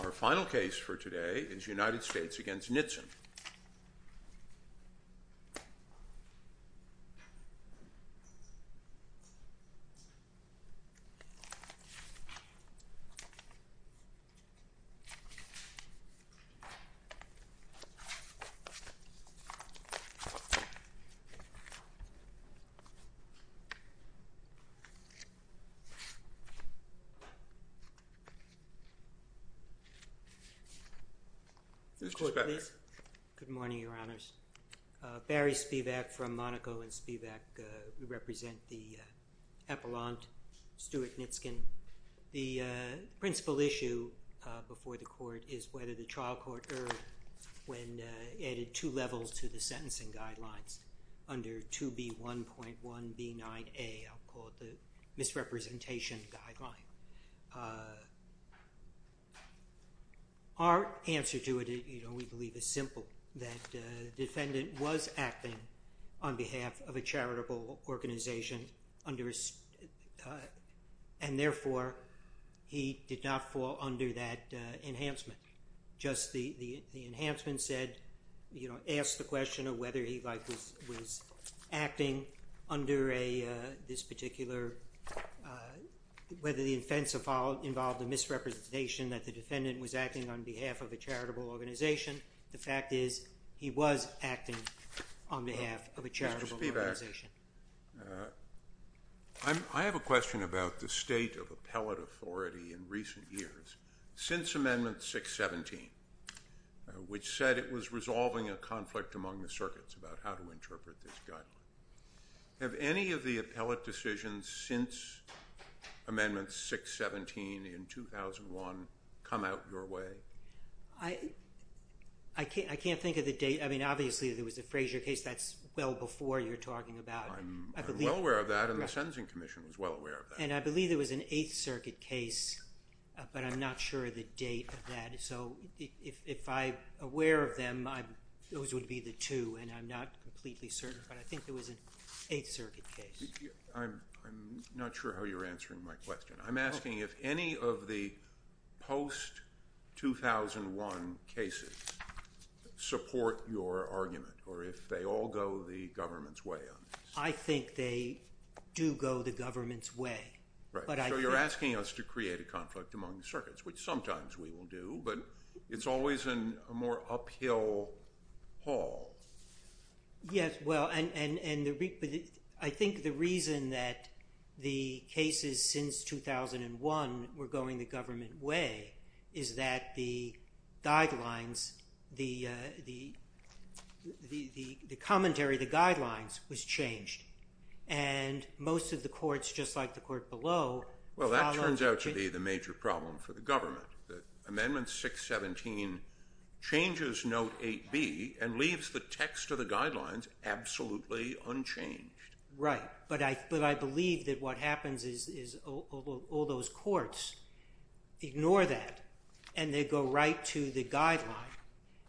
Our final case for today is United States v. Nitzan. Good morning, Your Honors. Barry Spivak from Monaco, and Spivak, we represent the appellant Stuart Nitzkin. The principal issue before the court is whether the trial court erred when added two levels to the sentencing guidelines under 2B1.1B9A, I'll call it the misrepresentation guideline. Our answer to it, we believe, is simple, that the defendant was acting on behalf of a charitable organization, and therefore, he did not fall under that enhancement. Just the enhancement said, asked the question of whether he was acting under this particular whether the offense involved a misrepresentation that the defendant was acting on behalf of a charitable organization. The fact is, he was acting on behalf of a charitable organization. Mr. Spivak, I have a question about the state of appellate authority in recent years. Since Amendment 617, which said it was resolving a conflict among the circuits about how to resolve a conflict, has that been a state of appellate authority in recent years? I can't think of the date. I mean, obviously, there was the Frazier case. That's well before you're talking about. I'm well aware of that, and the Sentencing Commission was well aware of that. And I believe there was an Eighth Circuit case, but I'm not sure of the date of that. So, if I'm aware of them, those would be the two, and I'm not completely certain, but I think there was an Eighth Circuit case. I'm not sure how you're answering my question. I'm asking if any of the post-2001 cases support your argument, or if they all go the government's way on this. I think they do go the government's way. Right. So, you're asking us to create a conflict among the circuits, which sometimes we will do, but it's always in a more uphill haul. Yes, well, and I think the reason that the cases since 2001 were going the government way is that the guidelines, the commentary, the guidelines was changed, and most of the courts, just like the court below, followed. Well, that turns out to be the major problem for the government. Amendment 617 changes Note 8b and leaves the text of the guidelines absolutely unchanged. Right, but I believe that what happens is all those courts ignore that, and they go right to the guideline,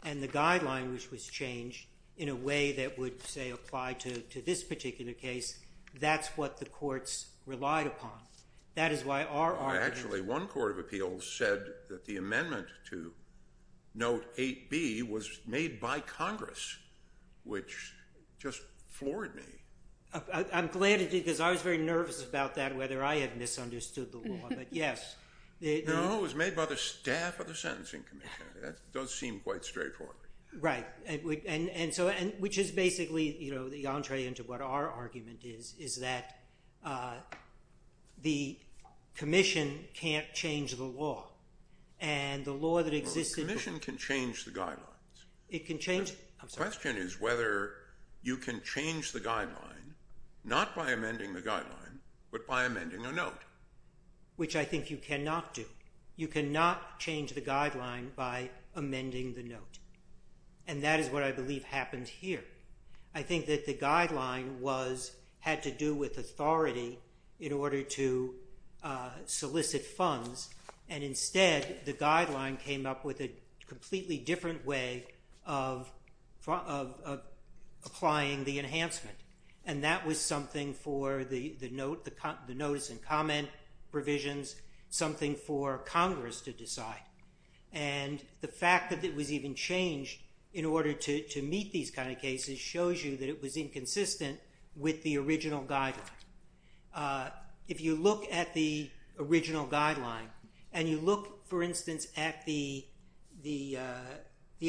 and the guideline, which was changed in a way that would, say, apply to this particular case, that's what the courts relied upon. Well, actually, one court of appeals said that the amendment to Note 8b was made by Congress, which just floored me. I'm glad, because I was very nervous about that, whether I had misunderstood the law, but yes. No, it was made by the staff of the Sentencing Committee. That does seem quite straightforward. Right, which is basically the entree into what our argument is, is that the commission can't change the law, and the law that existed before... Well, the commission can change the guidelines. It can change... I'm sorry. The question is whether you can change the guideline, not by amending the guideline, but by amending a note. Which I think you cannot do. You cannot change the guideline by amending the note, and that is what I believe happened here. I think that the guideline had to do with authority in order to solicit funds, and instead the guideline came up with a completely different way of applying the enhancement, and that was something for the notice and comment provisions, something for Congress to decide. And the fact that it was even changed in order to meet these kind of cases shows you that it was inconsistent with the original guideline. If you look at the original guideline, and you look, for instance, at the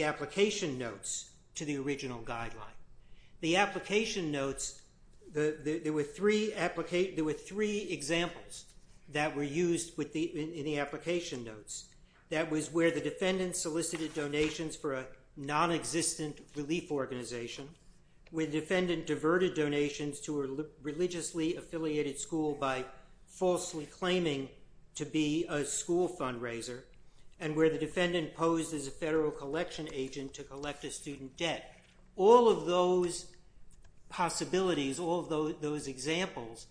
application notes to the original guideline, the application notes, there were three examples that were used in the application notes. That was where the defendant solicited donations for a nonexistent relief organization, where the defendant diverted donations to a religiously affiliated school by falsely claiming to be a school fundraiser, and where the defendant posed as a federal collection agent to collect a student debt. All of those possibilities, all of those examples,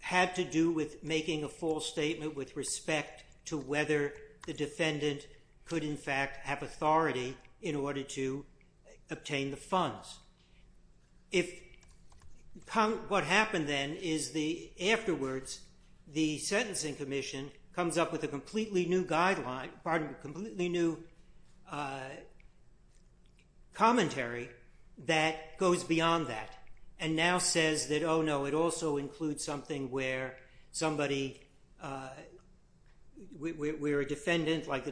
had to do with making a false statement with respect to whether the defendant could, in fact, have authority in order to obtain the funds. If what happened then is the, afterwards, the Sentencing Commission comes up with a completely new guideline, pardon me, completely new commentary that goes beyond that, and now says that, oh, no, it also includes something where somebody, where a defendant, like the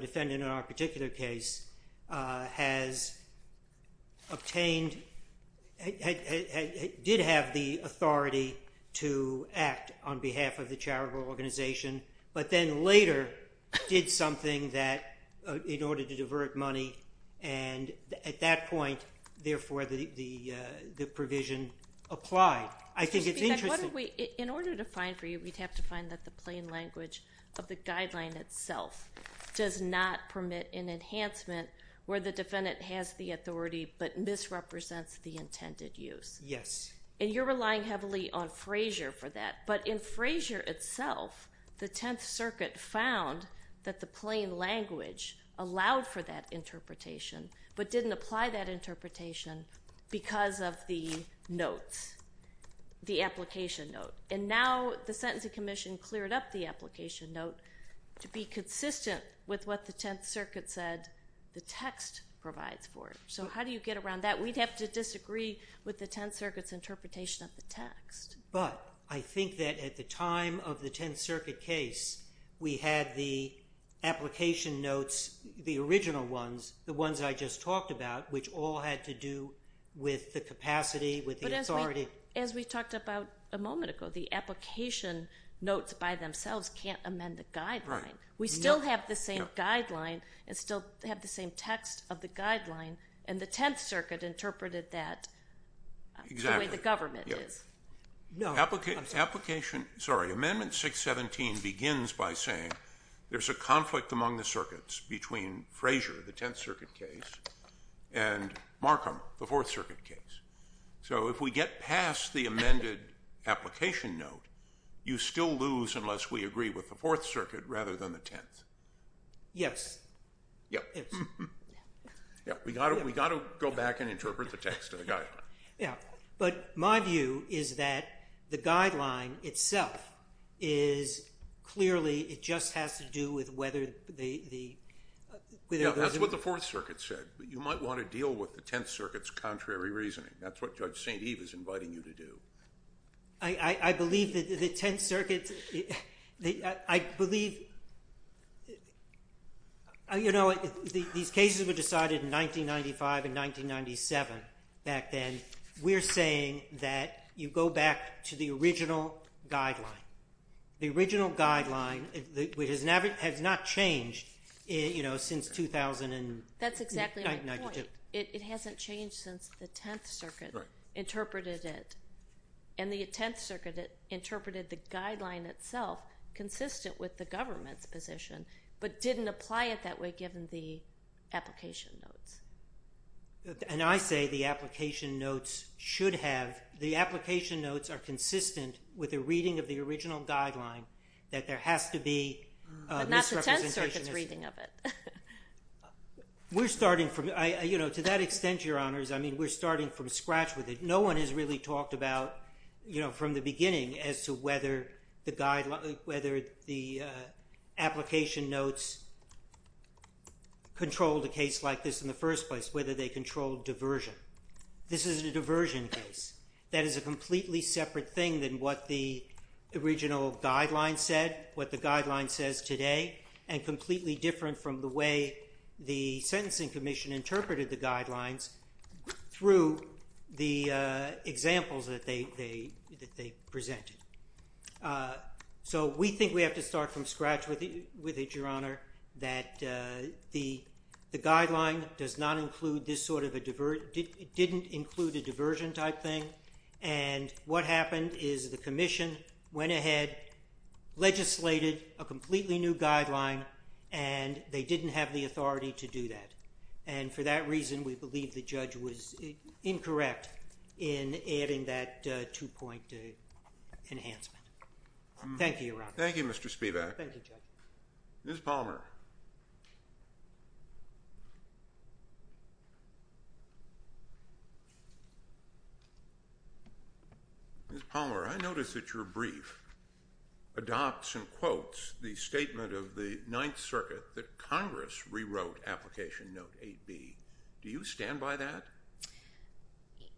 did have the authority to act on behalf of the charitable organization, but then later did something that, in order to divert money, and at that point, therefore, the provision applied. I think it's interesting. In order to find for you, we'd have to find that the plain language of the guideline itself does not permit an enhancement where the defendant has the authority, but misrepresents the intended use. Yes. And you're relying heavily on Frazier for that, but in Frazier itself, the Tenth Circuit found that the plain language allowed for that interpretation, but didn't apply that interpretation because of the notes, the application note. And now the Sentencing Commission cleared up the application note to be consistent with what the Tenth Circuit said the text provides for it. So how do you get around that? We'd have to disagree with the Tenth Circuit's interpretation of the text. But I think that at the time of the Tenth Circuit case, we had the application notes, the original ones, the ones I just talked about, which all had to do with the capacity, with the authority. Well, as we talked about a moment ago, the application notes by themselves can't amend the guideline. Right. We still have the same guideline and still have the same text of the guideline, and the Tenth Circuit interpreted that the way the government is. Application, sorry, Amendment 617 begins by saying there's a conflict among the circuits between Frazier, the Tenth Circuit case, and Markham, the Fourth Circuit case. So if we get past the amended application note, you still lose unless we agree with the Fourth Circuit rather than the Tenth. Yes. Yes. Yes. We've got to go back and interpret the text of the guideline. Yes. But my view is that the guideline itself is clearly, it just has to do with whether the – Yes. That's what the Fourth Circuit said. But you might want to deal with the Tenth Circuit's contrary reasoning. That's what Judge St. Eve is inviting you to do. I believe that the Tenth Circuit, I believe, you know, these cases were decided in 1995 and 1997 back then. We're saying that you go back to the original guideline. The original guideline has not changed, you know, since 2000. That's exactly my point. It hasn't changed since the Tenth Circuit interpreted it. And the Tenth Circuit interpreted the guideline itself consistent with the government's position but didn't apply it that way given the application notes. And I say the application notes should have – the application notes are consistent with the reading of the original guideline that there has to be misrepresentation. We're starting from – you know, to that extent, Your Honors, I mean, we're starting from scratch with it. No one has really talked about, you know, from the beginning as to whether the application notes controlled a case like this in the first place, whether they controlled diversion. This is a diversion case. That is a completely separate thing than what the original guideline said, what the guideline says today, and completely different from the way the Sentencing Commission interpreted the guidelines through the examples that they presented. So we think we have to start from scratch with it, Your Honor, that the guideline does not include this sort of a – didn't include a diversion type thing. And what happened is the Commission went ahead, legislated a completely new guideline, and they didn't have the authority to do that. And for that reason, we believe the judge was incorrect in adding that two-point enhancement. Thank you, Your Honor. Thank you, Mr. Spivak. Thank you, Judge. Ms. Palmer. Ms. Palmer, I notice that your brief adopts and quotes the statement of the Ninth Circuit that Congress rewrote Application Note 8B. Do you stand by that?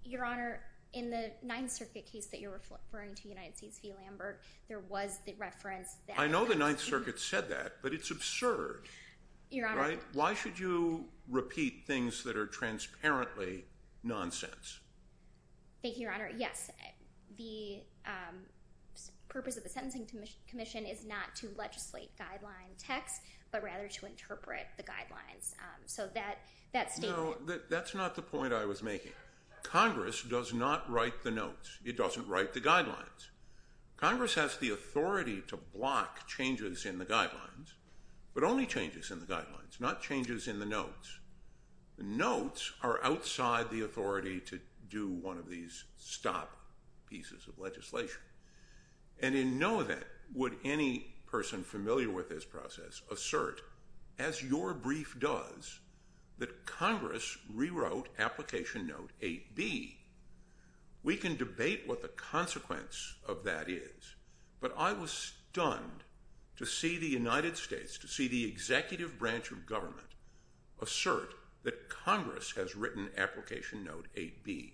Your Honor, in the Ninth Circuit case that you're referring to, United States v. Lambert, there was the reference that – I know the Ninth Circuit said that, but it's absurd. Your Honor – Why should you repeat things that are transparently nonsense? Thank you, Your Honor. Yes, the purpose of the Sentencing Commission is not to legislate guideline text, but rather to interpret the guidelines. So that statement – No, that's not the point I was making. Congress does not write the notes. It doesn't write the guidelines. Congress has the authority to block changes in the guidelines, but only changes in the guidelines, not changes in the notes. The notes are outside the authority to do one of these stop pieces of legislation. And in no event would any person familiar with this process assert, as your brief does, that Congress rewrote Application Note 8B. We can debate what the consequence of that is, but I was stunned to see the United States, to see the executive branch of government, assert that Congress has written Application Note 8B.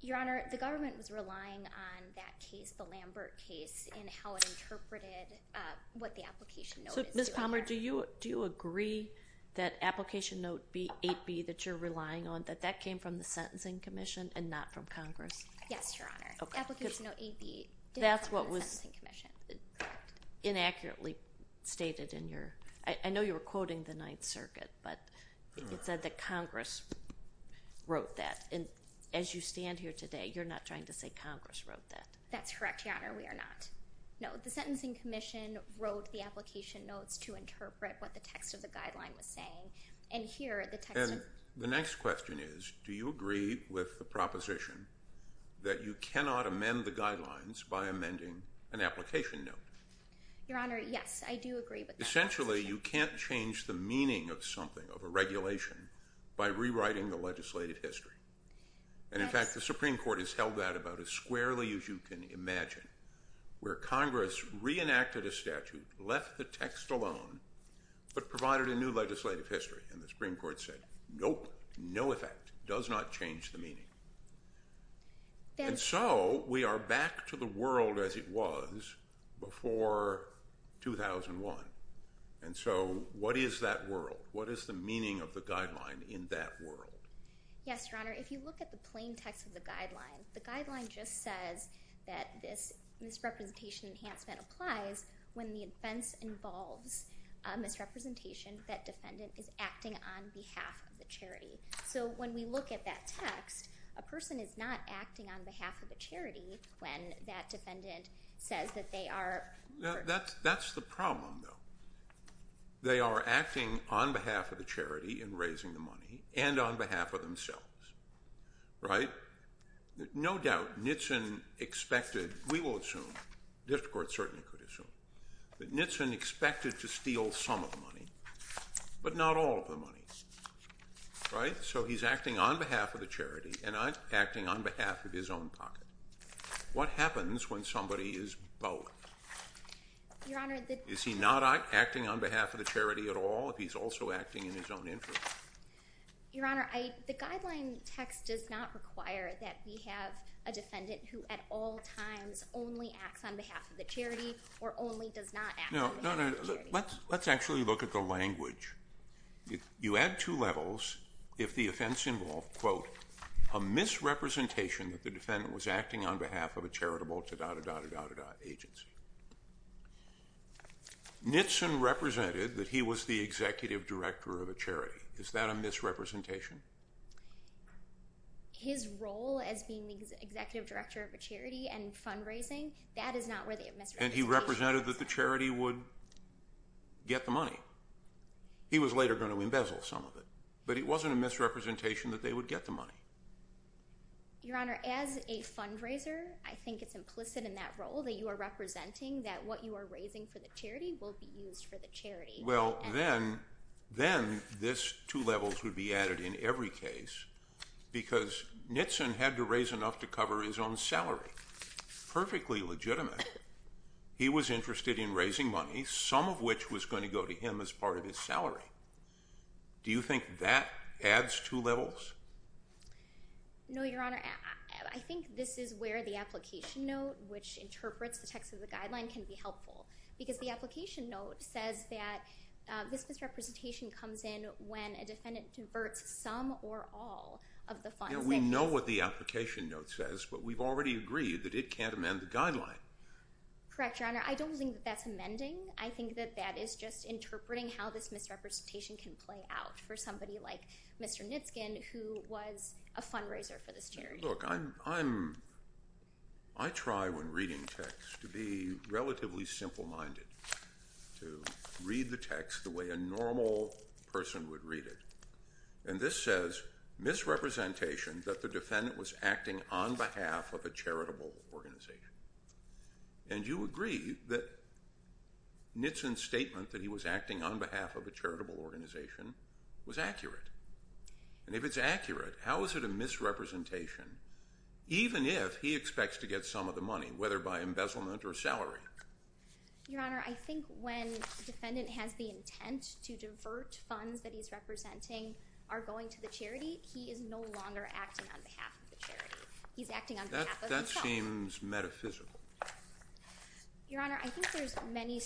Your Honor, the government was relying on that case, the Lambert case, in how it interpreted what the Application Note is doing. So, Ms. Palmer, do you agree that Application Note 8B that you're relying on, that that came from the Sentencing Commission and not from Congress? Yes, Your Honor. Application Note 8B did come from the Sentencing Commission. That's what was inaccurately stated in your—I know you were quoting the Ninth Circuit, but it said that Congress wrote that. And as you stand here today, you're not trying to say Congress wrote that. That's correct, Your Honor, we are not. No, the Sentencing Commission wrote the application notes to interpret what the text of the guideline was saying. And here, the text of— And the next question is, do you agree with the proposition that you cannot amend the guidelines by amending an application note? Your Honor, yes, I do agree with that proposition. Essentially, you can't change the meaning of something, of a regulation, by rewriting the legislative history. And, in fact, the Supreme Court has held that about as squarely as you can imagine, where Congress reenacted a statute, left the text alone, but provided a new legislative history. And the Supreme Court said, nope, no effect, does not change the meaning. And so, we are back to the world as it was before 2001. And so, what is that world? What is the meaning of the guideline in that world? Yes, Your Honor, if you look at the plain text of the guideline, the guideline just says that this misrepresentation enhancement applies when the offense involves a misrepresentation that defendant is acting on behalf of the charity. So, when we look at that text, a person is not acting on behalf of a charity when that defendant says that they are— That's the problem, though. They are acting on behalf of the charity in raising the money, and on behalf of themselves, right? No doubt, Nitzen expected—we will assume, the district court certainly could assume— that Nitzen expected to steal some of the money, but not all of the money, right? So, he's acting on behalf of the charity and acting on behalf of his own pocket. What happens when somebody is both? Your Honor, the— Is he not acting on behalf of the charity at all if he's also acting in his own interest? Your Honor, the guideline text does not require that we have a defendant who at all times only acts on behalf of the charity or only does not act on behalf of the charity. No, no, let's actually look at the language. You add two levels if the offense involved, quote, a misrepresentation that the defendant was acting on behalf of a charitable da-da-da-da-da-da-da agency. Nitzen represented that he was the executive director of a charity. Is that a misrepresentation? His role as being the executive director of a charity and fundraising, that is not where the misrepresentation— And he represented that the charity would get the money. He was later going to embezzle some of it, but it wasn't a misrepresentation that they would get the money. Your Honor, as a fundraiser, I think it's implicit in that role that you are representing that what you are raising for the charity will be used for the charity. Well, then this two levels would be added in every case because Nitzen had to raise enough to cover his own salary, perfectly legitimate. He was interested in raising money, some of which was going to go to him as part of his salary. Do you think that adds two levels? No, Your Honor. I think this is where the application note, which interprets the text of the guideline, can be helpful. Because the application note says that this misrepresentation comes in when a defendant diverts some or all of the funds. Yeah, we know what the application note says, but we've already agreed that it can't amend the guideline. Correct, Your Honor. I don't think that that's amending. I think that that is just interpreting how this misrepresentation can play out for somebody like Mr. Nitzen, who was a fundraiser for this charity. Look, I try when reading text to be relatively simple-minded, to read the text the way a normal person would read it. And this says, misrepresentation that the defendant was acting on behalf of a charitable organization. And you agree that Nitzen's statement that he was acting on behalf of a charitable organization was accurate. And if it's accurate, how is it a misrepresentation, even if he expects to get some of the money, whether by embezzlement or salary? Your Honor, I think when the defendant has the intent to divert funds that he's representing are going to the charity, he is no longer acting on behalf of the charity. He's acting on behalf of himself. That seems metaphysical. Your Honor, I think there's many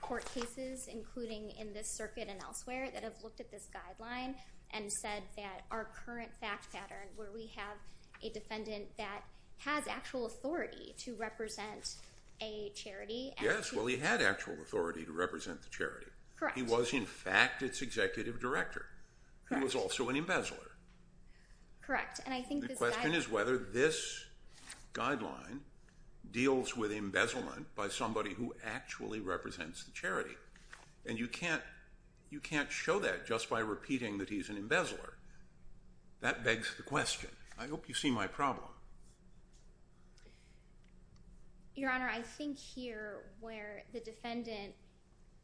court cases, including in this circuit and elsewhere, that have looked at this guideline and said that our current fact pattern, where we have a defendant that has actual authority to represent a charity. Yes, well, he had actual authority to represent the charity. Correct. He was, in fact, its executive director. Correct. He was also an embezzler. Correct. And I think this guideline... The question is whether this guideline deals with embezzlement by somebody who actually represents the charity. And you can't show that just by repeating that he's an embezzler. That begs the question. I hope you see my problem. Your Honor, I think here where the defendant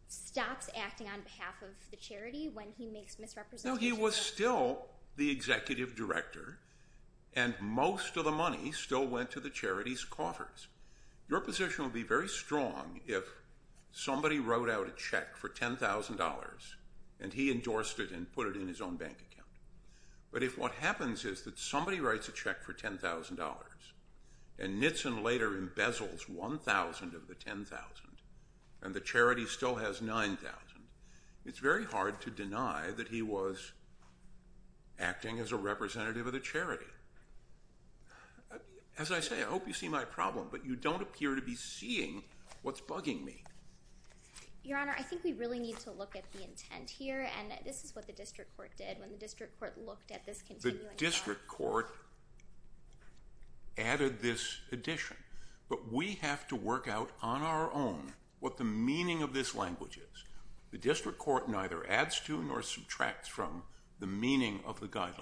stops acting on behalf of the charity when he makes misrepresentations... No, he was still the executive director, and most of the money still went to the charity's coffers. Your position would be very strong if somebody wrote out a check for $10,000, and he endorsed it and put it in his own bank account. But if what happens is that somebody writes a check for $10,000, and Nitzen later embezzles $1,000 of the $10,000, and the charity still has $9,000, it's very hard to deny that he was acting as a representative of the charity. As I say, I hope you see my problem, but you don't appear to be seeing what's bugging me. Your Honor, I think we really need to look at the intent here, and this is what the district court did. When the district court looked at this... The district court added this addition, but we have to work out on our own what the meaning of this language is. The district court neither adds to nor subtracts from the meaning of the guideline.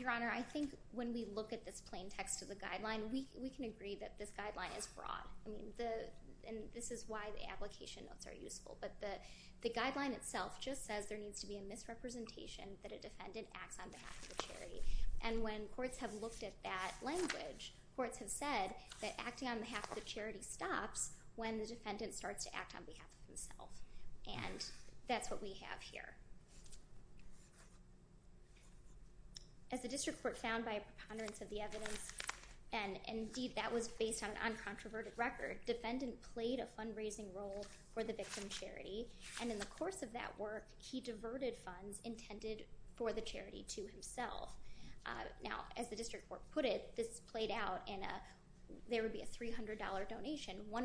Your Honor, I think when we look at this plain text of the guideline, we can agree that this guideline is broad, and this is why the application notes are useful, but the guideline itself just says there needs to be a misrepresentation that a defendant acts on behalf of the charity, and when courts have looked at that language, courts have said that acting on behalf of the charity stops when the defendant starts to act on behalf of himself, and that's what we have here. As the district court found by a preponderance of the evidence, and indeed that was based on an uncontroverted record, defendant played a fundraising role for the victim's charity, and in the course of that work, he diverted funds intended for the charity to himself. Now, as the district court put it, this played out in there would be a $300 donation. $100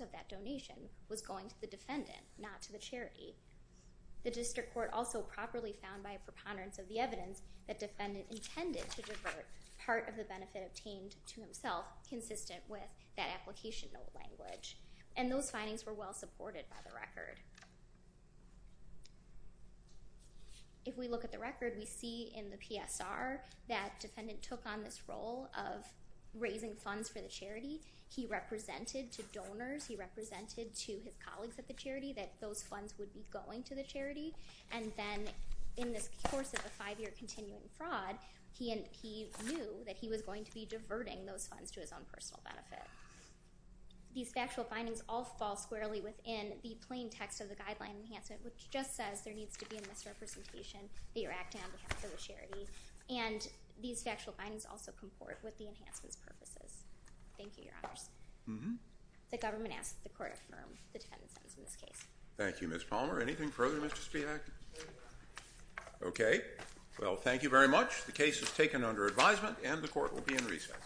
of that donation was going to the defendant, not to the charity. The district court also properly found by a preponderance of the evidence that defendant intended to divert part of the benefit obtained to himself consistent with that application note language, and those findings were well supported by the record. If we look at the record, we see in the PSR that defendant took on this role of raising funds for the charity. He represented to donors. He represented to his colleagues at the charity that those funds would be going to the charity, and then in this course of the five-year continuing fraud, he knew that he was going to be diverting those funds to his own personal benefit. These factual findings all fall squarely within the plain text of the guideline enhancement, which just says there needs to be a misrepresentation that you're acting on behalf of the charity, and these factual findings also comport with the enhancement's purposes. Thank you, Your Honors. The government asks that the court affirm the defendant's sentence in this case. Thank you, Ms. Palmer. Anything further, Mr. Spivak? Okay. Well, thank you very much. The case is taken under advisement, and the court will be in recess.